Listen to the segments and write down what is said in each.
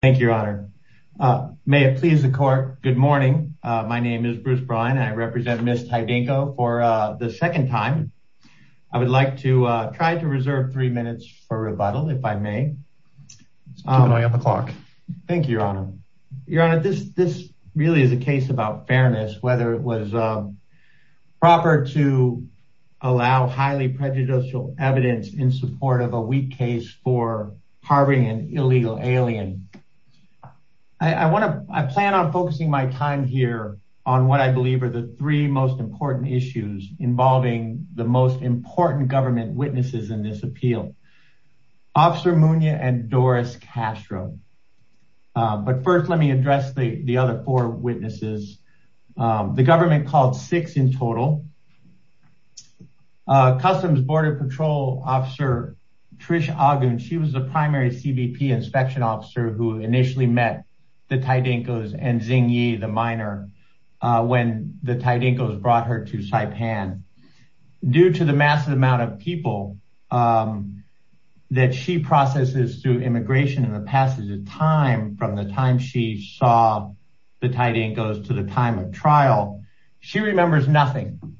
Thank you, Your Honor. May it please the court. Good morning. My name is Bruce Brine. I represent Ms. Tydingco for the second time. I would like to try to reserve three minutes for rebuttal if I may. Thank you, Your Honor. Your Honor, this really is a case about fairness, whether it was proper to allow highly prejudicial evidence in support of a weak case for harboring an illegal alien. I plan on focusing my time here on what I believe are the three most important issues involving the most important government witnesses in this appeal, Officer Munoz and Doris Castro. But first, let me address the other four witnesses. The government called six in total. Customs Border Patrol Officer Trish Ogden, she was the primary CBP inspection officer who initially met the Tydingcos and Zing Yi, the minor, when the Tydingcos brought her to Saipan. Due to the massive amount of people that she processes through She remembers nothing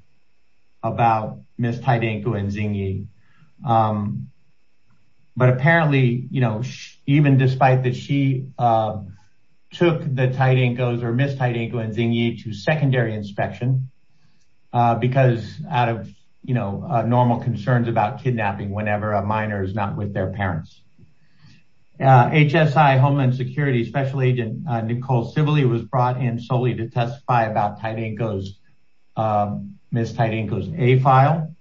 about Ms. Tydingco and Zing Yi. But apparently, you know, even despite that she took the Tydingcos or Ms. Tydingco and Zing Yi to secondary inspection, because out of, you know, normal concerns about kidnapping whenever a minor is not with their parents. HSI Homeland Security Special Agent Nicole Sibley was brought in solely to testify about Ms. Tydingco's A-file.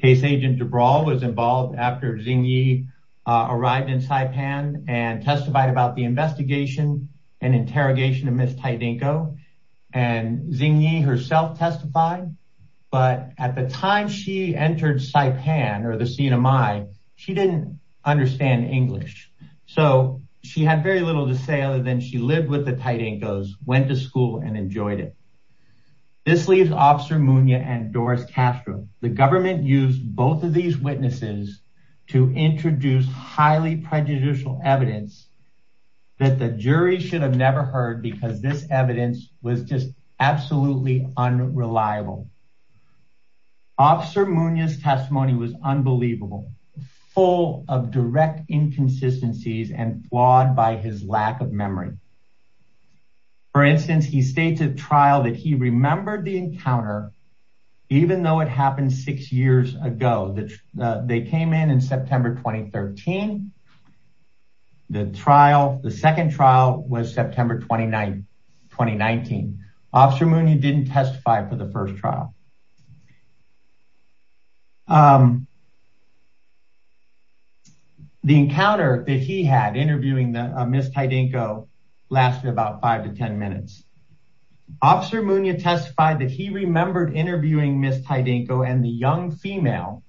Case Agent DeBrawl was involved after Zing Yi arrived in Saipan and testified about the investigation and interrogation of Ms. Tydingco. And Zing Yi herself testified. But at the time she entered Saipan or the CNMI, she didn't understand English. So she had very little to say other than she lived with the Tydingcos, went to This leaves Officer Munoz and Doris Castro. The government used both of these witnesses to introduce highly prejudicial evidence that the jury should have never heard because this evidence was just absolutely unreliable. Officer Munoz's testimony was unbelievable, full of that he remembered the encounter, even though it happened six years ago, that they came in in September 2013. The trial, the second trial was September 2019. Officer Munoz didn't testify for the first trial. The encounter that he had interviewing Ms. Tydingco lasted about five to 10 minutes. Officer Munoz testified that he remembered interviewing Ms. Tydingco and the young female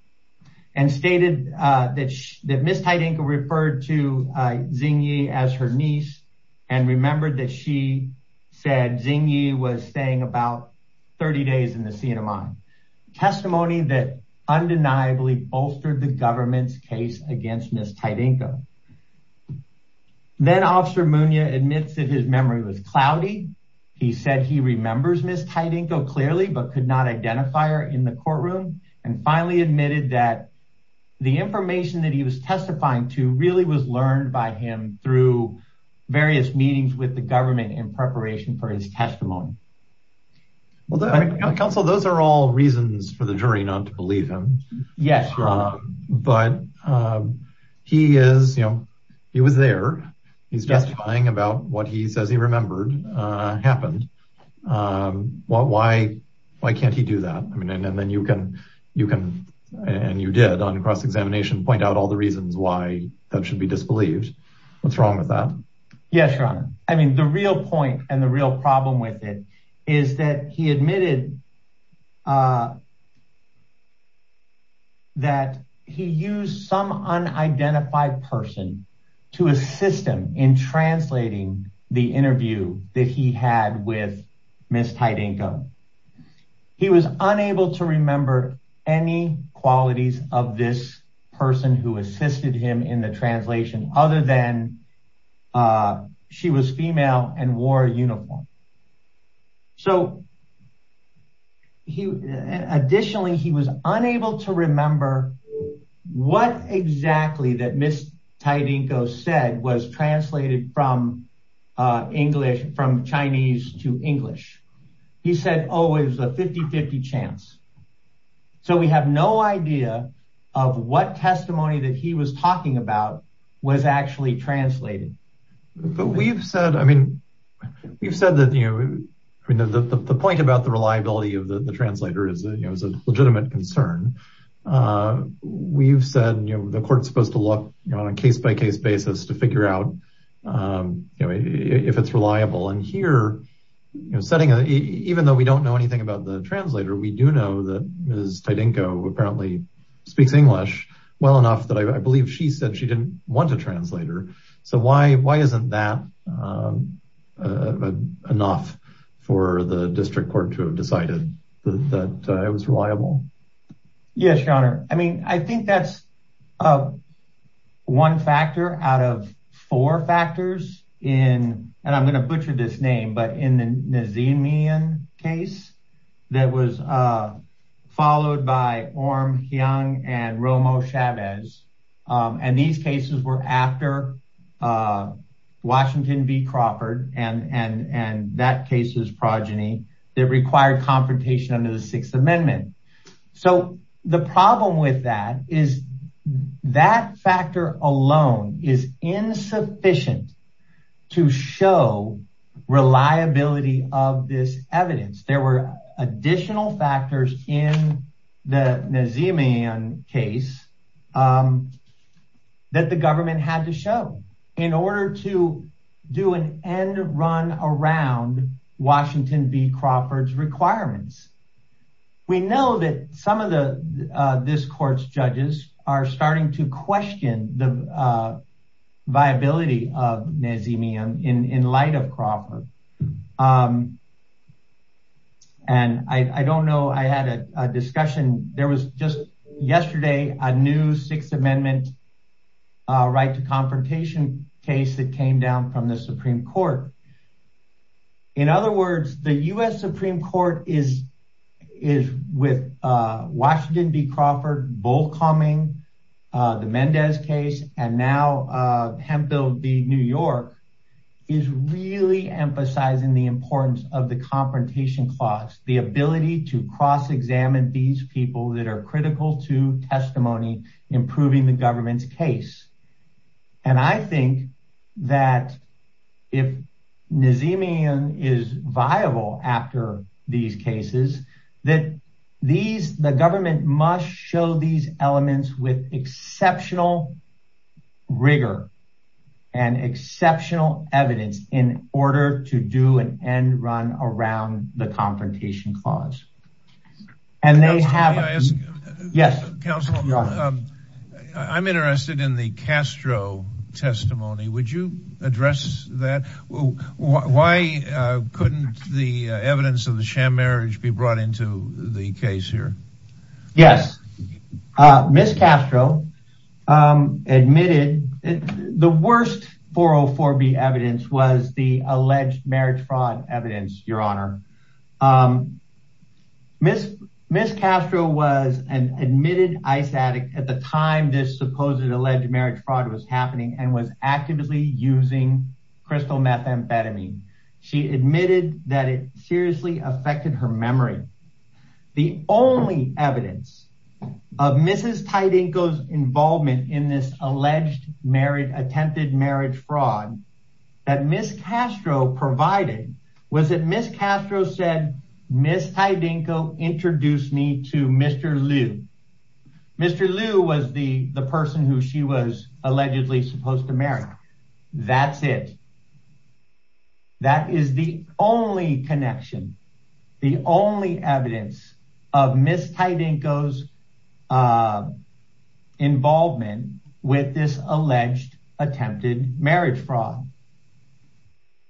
and stated that Ms. Tydingco referred to Zing Yi as her niece and remembered that she said Zing Yi was staying about 30 days in the CNMI. Testimony that undeniably bolstered the government's case against Ms. Tydingco. Then Officer Munoz admits that his memory was cloudy. He said he remembers Ms. Tydingco clearly, but could not identify her in the courtroom and finally admitted that the information that he was testifying to really was learned by him through various meetings with the government in preparation for his testimony. Counsel, those are all reasons for the jury not to believe him, but he was there. He's testifying about what he says he remembered happened. Why can't he do that? And you did on cross-examination point out all the reasons why that should be disbelieved. What's wrong with that? Yes, your honor. I mean, the real point and the real problem with it is that he admitted that he used some unidentified person to assist him in translating the interview that he had with Ms. Tydingco. He was unable to remember any qualities of this person who assisted him in the translation other than she was female and wore a uniform. Additionally, he was unable to remember what exactly that Ms. Tydingco said was translated from Chinese to English. He said, oh, it was a 50-50 chance. So we have no idea of what testimony that he was talking about was actually translated. But we've said, I mean, we've said that, you know, the point about the reliability of the translator is a legitimate concern. We've said, you know, the court's supposed to look on a case-by-case basis to figure out, you know, if it's reliable. And here, you know, even though we don't know anything about the translator, we do know that Ms. Tydingco apparently speaks English well enough that I believe she said she didn't want a translator. So why isn't that enough for the district court to have decided that it was reliable? Yes, your honor. I mean, I think that's one factor out of four factors in, and I'm going butcher this name, but in the Nazimian case that was followed by Orm Heung and Romo Chavez, and these cases were after Washington v. Crawford, and that case was progeny that required confrontation under the Sixth Amendment. So the problem with that is that factor alone is insufficient to show reliability of this evidence. There were additional factors in the Nazimian case that the government had to show in order to do an end run around Washington v. Crawford's requirements. We know that some of this court's judges are starting to question the viability of Nazimian in light of Crawford. And I don't know, I had a discussion, there was just yesterday a new Sixth Amendment right to confrontation case that came down from the Supreme Court. In other words, the U.S. Supreme Court is with Washington v. Crawford both calming the Mendez case, and now Hemphill v. New York is really emphasizing the importance of the confrontation clause, the ability to cross-examine these people that are critical to testimony, improving the government's case. And I think that if Nazimian is viable after these cases, that the government must show these elements with exceptional rigor and exceptional evidence in order to do an end run around the confrontation clause. And they have- May I ask? Yes. Counsel, I'm interested in the Castro testimony. Would you address that? Why couldn't the evidence of the sham marriage be brought into the case here? Yes. Ms. Castro admitted the worst 404B evidence was the alleged marriage fraud evidence, Your Honor. Ms. Castro was an admitted ICE addict at the time this supposed alleged marriage fraud was happening and was actively using crystal methamphetamine. She admitted that it seriously affected her memory. The only evidence of Mrs. Tydenko's involvement in this alleged attempted marriage fraud that Ms. Castro provided was that Ms. Castro said, Ms. Tydenko, introduce me to Mr. Liu. Mr. Liu was the person who she was allegedly supposed to connection, the only evidence of Ms. Tydenko's involvement with this alleged attempted marriage fraud.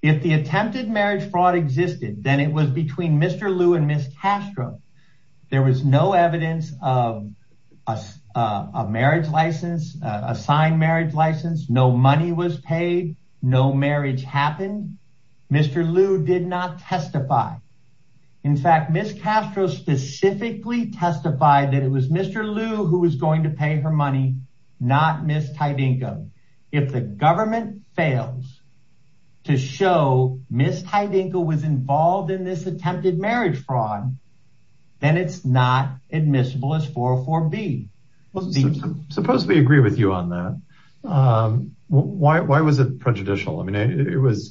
If the attempted marriage fraud existed, then it was between Mr. Liu and Ms. Castro. There was no evidence of a marriage license, a signed marriage license, no money was paid, no marriage happened. Mr. Liu did not testify. In fact, Ms. Castro specifically testified that it was Mr. Liu who was going to pay her money, not Ms. Tydenko. If the government fails to show Ms. Tydenko was involved in this attempted marriage fraud, then it's not admissible as 404B. Well, suppose we agree with you on that. Why was it prejudicial? I mean,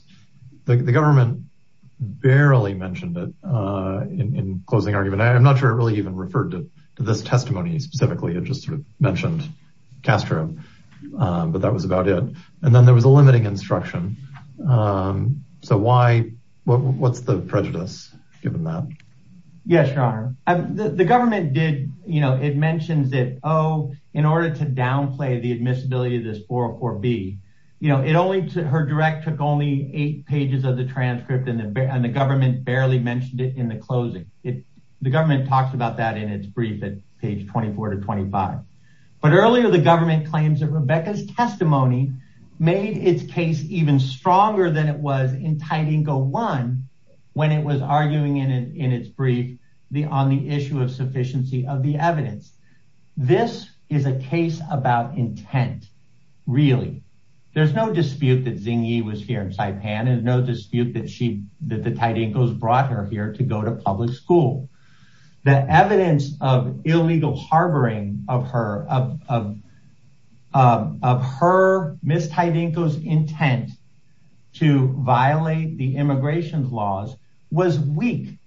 the government barely mentioned it in closing argument. I'm not sure it really even referred to this testimony specifically. It just sort of mentioned Castro, but that was about it. And then there was a limiting instruction. So what's the prejudice given that? Yes, Your Honor. The government mentioned that in order to downplay the admissibility of this 404B, her direct took only eight pages of the transcript and the government barely mentioned it in the closing. The government talks about that in its brief at page 24 to 25. But earlier, the government claims that Rebecca's testimony made its case even stronger than it was in Tydenko when it was arguing in its brief on the issue of sufficiency of the evidence. This is a case about intent, really. There's no dispute that Zing Yi was here in Saipan. There's no dispute that the Tydenkos brought her here to go to public school. The evidence of illegal harboring of her, Ms. Tydenko's intent to violate the immigration laws was weak.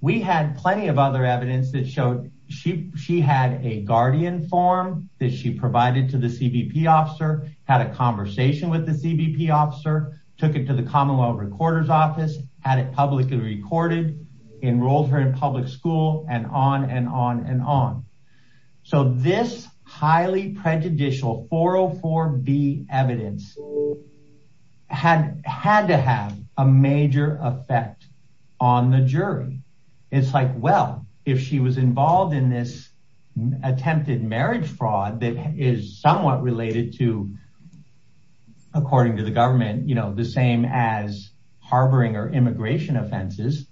We had plenty of other evidence that showed she had a guardian form that she provided to the CBP officer, had a conversation with the CBP officer, took it to the Commonwealth Recorder's office, had it publicly recorded, enrolled her in public school, and on and on and on. So this highly prejudicial 404B evidence had to have a major effect on the jury. It's like, well, if she was involved in this attempted marriage fraud that is somewhat related to, according to the government, the same as harboring or immigration offenses,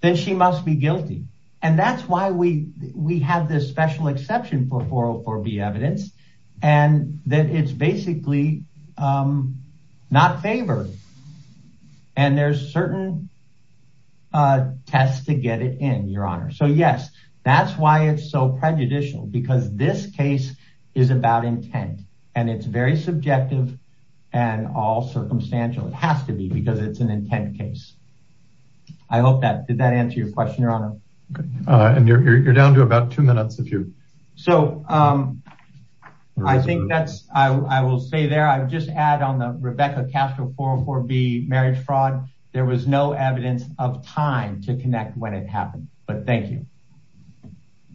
then she must be guilty. And that's why we have this special exception for 404B evidence, and that it's basically not favored. And there's certain tests to get it in, Your Honor. So yes, that's why it's so prejudicial, because this case is about intent, and it's very subjective and all circumstantial. It has to be, because it's an intent case. I hope that did that answer your question, Your Honor. And you're down to about two minutes. So I think that's, I will stay there. I'll just add on the Rebecca Castro 404B marriage fraud, there was no evidence of time to connect when it happened. But thank you.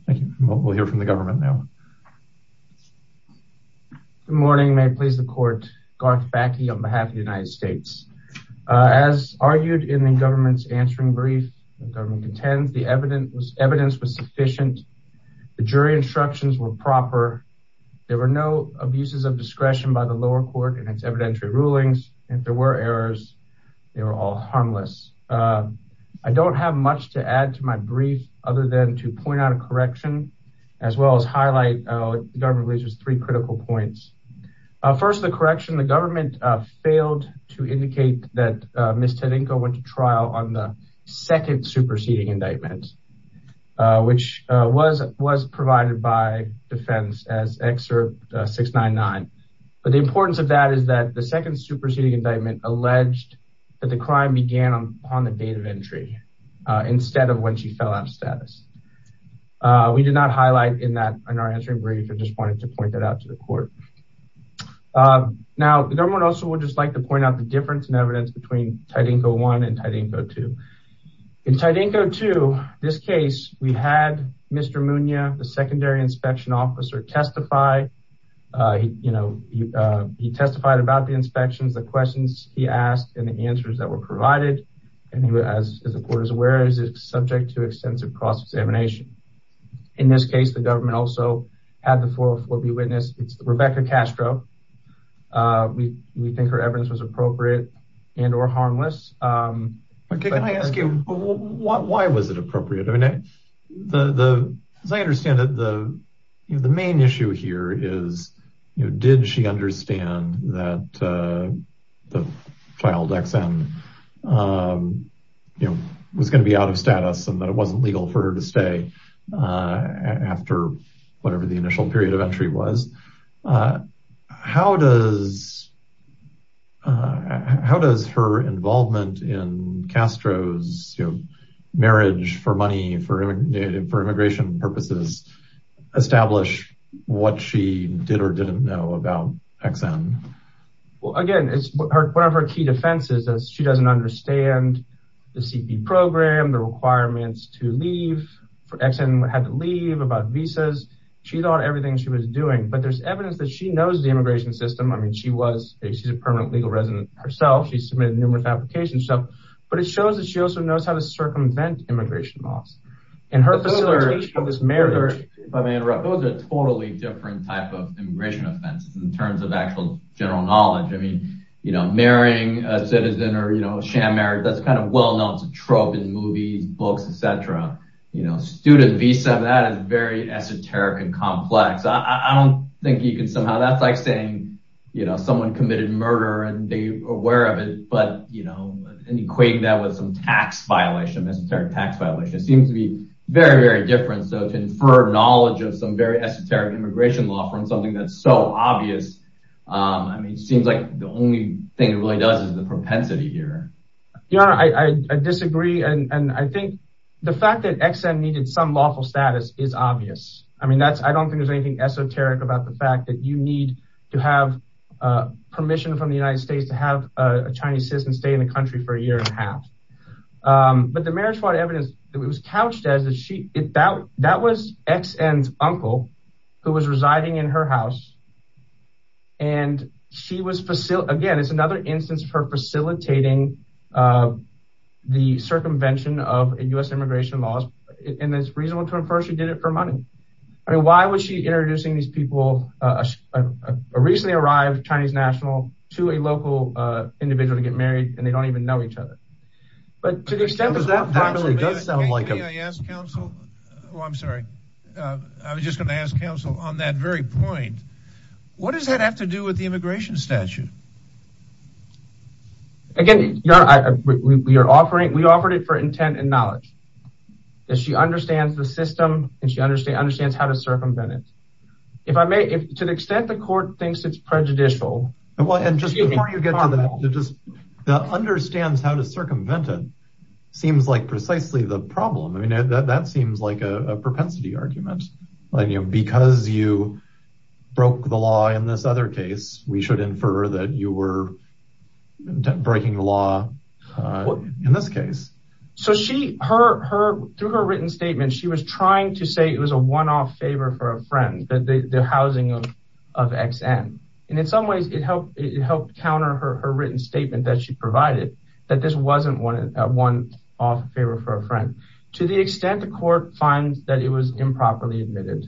Thank you. We'll hear from the government now. Good morning. May it please the court. Garth Backe on behalf of the United States. As argued in the government's answering brief, the government contends the evidence was sufficient. The jury instructions were proper. There were no abuses of discretion by the lower court in its evidentiary rulings. If there were errors, they were all harmless. I don't have much to add to my brief other than to point out a correction, as well as highlight the government raises three critical points. First, the correction, the government failed to indicate that Ms. Tedenko went to trial on the second superseding indictment, which was provided by defense as excerpt 699. But the importance of that is that the second superseding indictment alleged that the crime began on the date of entry, instead of when she fell out of status. We did not highlight in that in our answering brief, I just wanted to point that out to the court. Now, the government also would just like to point out the difference in evidence between Tedenko one and Tedenko two. In Tedenko two, this case, we had Mr. Munoz, the secondary inspection officer testify. You know, he testified about the inspections, the questions he asked and the and he was, as the court is aware, is subject to extensive cross-examination. In this case, the government also had the 404B witness, it's Rebecca Castro. We think her evidence was appropriate and or harmless. Can I ask you, why was it appropriate? I mean, as I understand it, the main issue here is, did she understand that the child XM was going to be out of status and that it wasn't legal for her to stay after whatever the initial period of entry was? How does her involvement in Castro's for money, for immigration purposes, establish what she did or didn't know about XM? Well, again, it's one of her key defenses that she doesn't understand the CP program, the requirements to leave for XM had to leave about visas. She thought everything she was doing, but there's evidence that she knows the immigration system. I mean, she was a permanent legal resident herself. She submitted numerous applications. So, but it shows that she also knows how to prevent immigration laws and her facilitation of this marriage. If I may interrupt, those are totally different type of immigration offenses in terms of actual general knowledge. I mean, you know, marrying a citizen or, you know, sham marriage, that's kind of well-known to trope in movies, books, et cetera. You know, student visa, that is very esoteric and complex. I don't think you can somehow, that's like saying, you know, someone committed murder and they are aware of it, but, you know, and equating that with some tax violation, esoteric tax violation, it seems to be very, very different. So to infer knowledge of some very esoteric immigration law from something that's so obvious. I mean, it seems like the only thing it really does is the propensity here. Yeah, I disagree. And I think the fact that XM needed some lawful status is obvious. I mean, that's, I don't think there's anything esoteric about the fact that you need to have permission from the United States to have a Chinese citizen stay in the country for a year and a half. But the marriage fraud evidence that it was couched as, that was XM's uncle who was residing in her house. And she was, again, it's another instance of her facilitating the circumvention of U.S. immigration laws. And it's reasonable to infer she did it for money. I mean, why would she introducing these people, a recently arrived Chinese national to a local individual to get married and they don't even know each other. But to the extent that that probably does sound like, I'm sorry, I was just going to ask counsel on that very point. What does that have to do with the immigration statute? Again, we are offering, we offered it for intent and knowledge. That she understands the system and she understands how to circumvent it. If I may, to the extent the court thinks it's prejudicial. Well, and just before you get to that, that understands how to circumvent it seems like precisely the problem. I mean, that seems like a propensity argument. Because you broke the law in this other case, we should infer that you were breaking the law in this case. So she, her, her, through her written statement, she was trying to say it was a one-off favor for a friend that the housing of, of XM. And in some ways it helped, it helped counter her, her written statement that she provided that this wasn't one, one off favor for a friend. To the extent the court finds that it was improperly admitted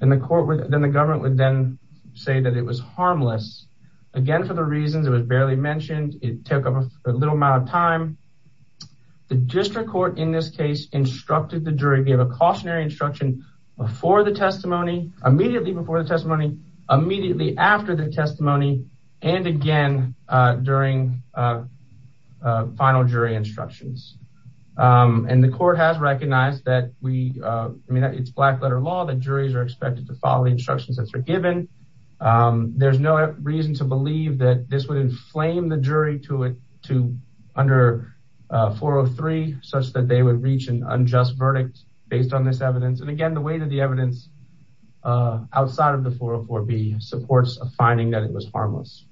and the court would, then the government would then say that it was harmless. Again, for the reasons it was barely mentioned, it took up a little amount of time. The district court in this case instructed the jury, gave a cautionary instruction before the testimony, immediately before the testimony, immediately after the testimony, and again, during final jury instructions. And the court has recognized that we, I mean, it's black letter law that juries are expected to follow the instructions that are given. There's no reason to believe that this would inflame the jury to it, to under 403, such that they would reach an unjust verdict based on this evidence. And again, the way that the evidence outside of the 404B supports a finding that it was harmless.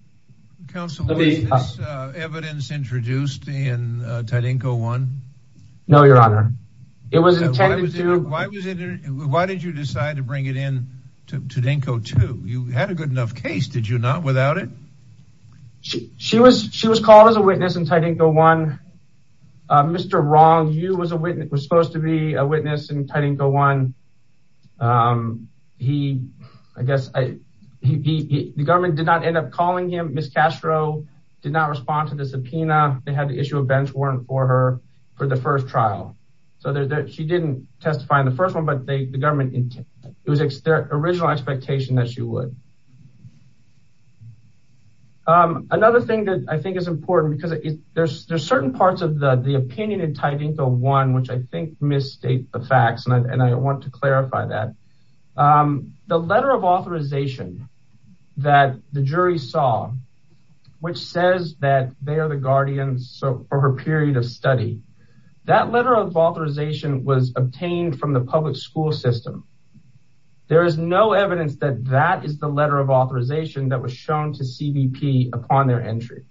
Counselor, was this evidence introduced in Tadinko 1? No, your honor. It was intended to. Why did you decide to bring it in to Tadinko 2? You had a good enough case, did you not, without it? She was, she was called as a witness in Tadinko 1. Mr. Rong, you was a witness, was supposed to be a witness in Tadinko 1. He, I guess, the government did not end up calling him. Ms. Castro did not respond to the subpoena. They issued a bench warrant for her for the first trial. So she didn't testify in the first one, but the government, it was their original expectation that she would. Another thing that I think is important because there's certain parts of the opinion in Tadinko 1, which I think misstate the facts. And I want to clarify that. The letter of authorization that the jury saw, which says that they are the guardians. So for her period of study, that letter of authorization was obtained from the public school system. There is no evidence that that is the letter of authorization that was shown to CBP upon their entry.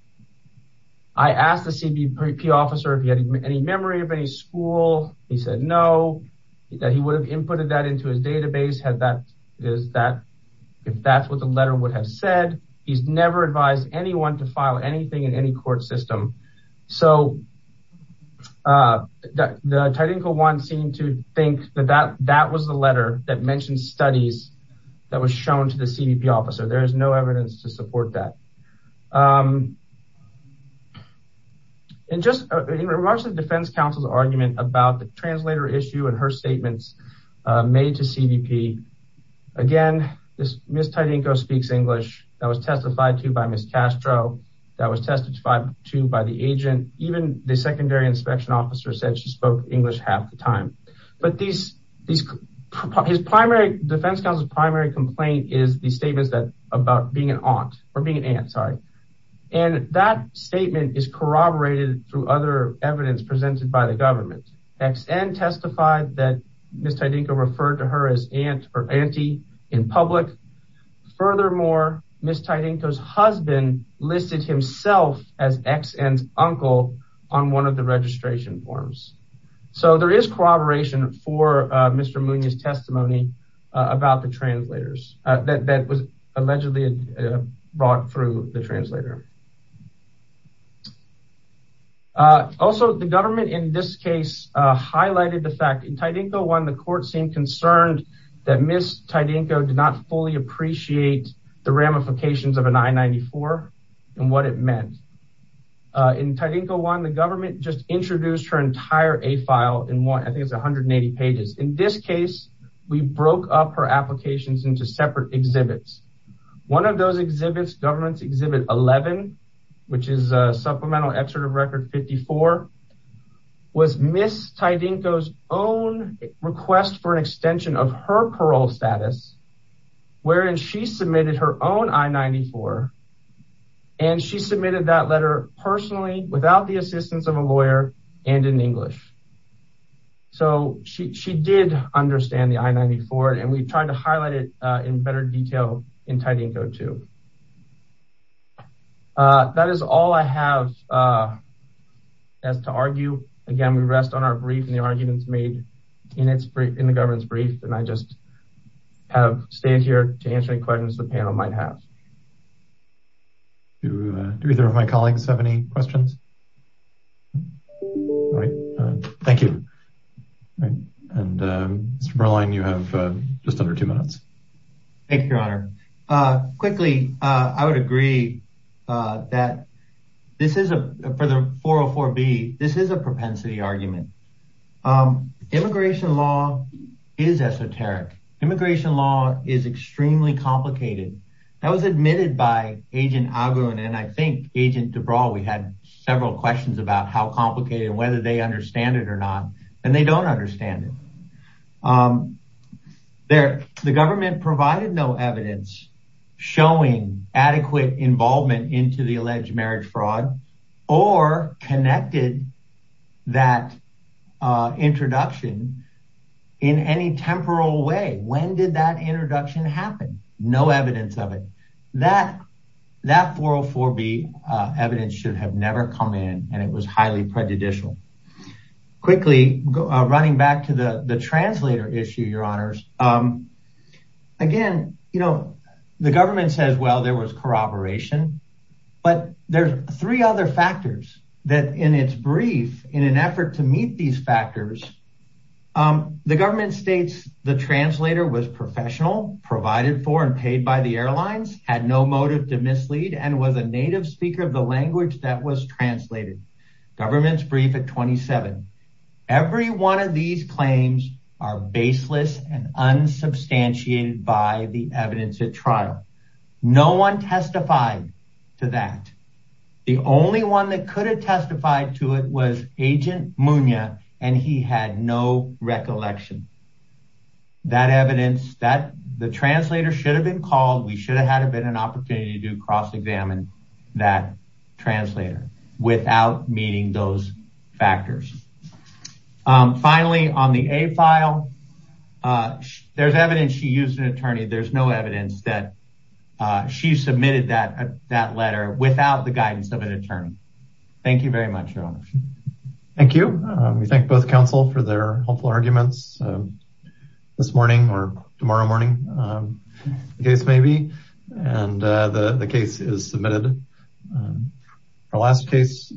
I asked the CBP officer if he had any memory of any school. He said, no, that he would inputted that into his database. Had that, is that, if that's what the letter would have said, he's never advised anyone to file anything in any court system. So the Tadinko 1 seemed to think that that was the letter that mentioned studies that was shown to the CBP officer. There is no evidence to support that. And just in regards to the defense counsel's argument about the translator issue and her statements made to CBP. Again, this Ms. Tadinko speaks English that was testified to by Ms. Castro, that was testified to by the agent. Even the secondary inspection officer said she spoke English half the time. But these, these, his primary defense counsel's primary complaint is the statements that about being an aunt or being an aunt, sorry. And that statement is that Ms. Tadinko referred to her as aunt or auntie in public. Furthermore, Ms. Tadinko's husband listed himself as ex-aunt's uncle on one of the registration forms. So there is corroboration for Mr. Munoz testimony about the translators that was allegedly brought through the translator. Also, the government in this case highlighted the fact in Tadinko 1, the court seemed concerned that Ms. Tadinko did not fully appreciate the ramifications of an I-94 and what it meant. In Tadinko 1, the government just introduced her entire A file in one, I think it's 180 pages. In this case, we broke up her applications into separate exhibits. One of those exhibits, government's exhibit 11, which is a supplemental excerpt of record 54, was Ms. Tadinko's own request for an extension of her parole status, wherein she submitted her own I-94. And she submitted that letter personally without the assistance of a lawyer and in English. So she did understand the I-94 and we tried to highlight it in better detail in Tadinko 2. That is all I have as to argue. Again, we rest on our brief and the arguments made in the government's brief and I just have stayed here to answer any questions the panel might have. Do either of my colleagues have any questions? All right, thank you. All right, and Mr. Merline, you have just under two minutes. Thank you, Your Honor. Quickly, I would agree that this is a, for the 404B, this is a propensity argument. Immigration law is esoteric. Immigration law is extremely complicated. That was admitted by Agent Agun and I think Agent DeBraw, we had several questions about how complicated and they understand it or not and they don't understand it. The government provided no evidence showing adequate involvement into the alleged marriage fraud or connected that introduction in any temporal way. When did that introduction happen? No evidence of it. That 404B evidence should have never come in and it was highly prejudicial. Quickly, running back to the translator issue, Your Honors, again, you know, the government says, well, there was corroboration, but there's three other factors that in its brief, in an effort to meet these factors, the government states the translator was professional, provided for and a native speaker of the language that was translated. Government's brief at 27. Every one of these claims are baseless and unsubstantiated by the evidence at trial. No one testified to that. The only one that could have testified to it was Agent Munoz and he had no recollection. That evidence, the translator should have been called. We should have had an opportunity to cross examine that translator without meeting those factors. Finally, on the A file, there's evidence she used an attorney. There's no evidence that she submitted that letter without the guidance of an attorney. Thank you very much, Your Honors. Thank you. We thank both counsel for their helpful arguments this morning or tomorrow morning. The case is submitted. Our last case.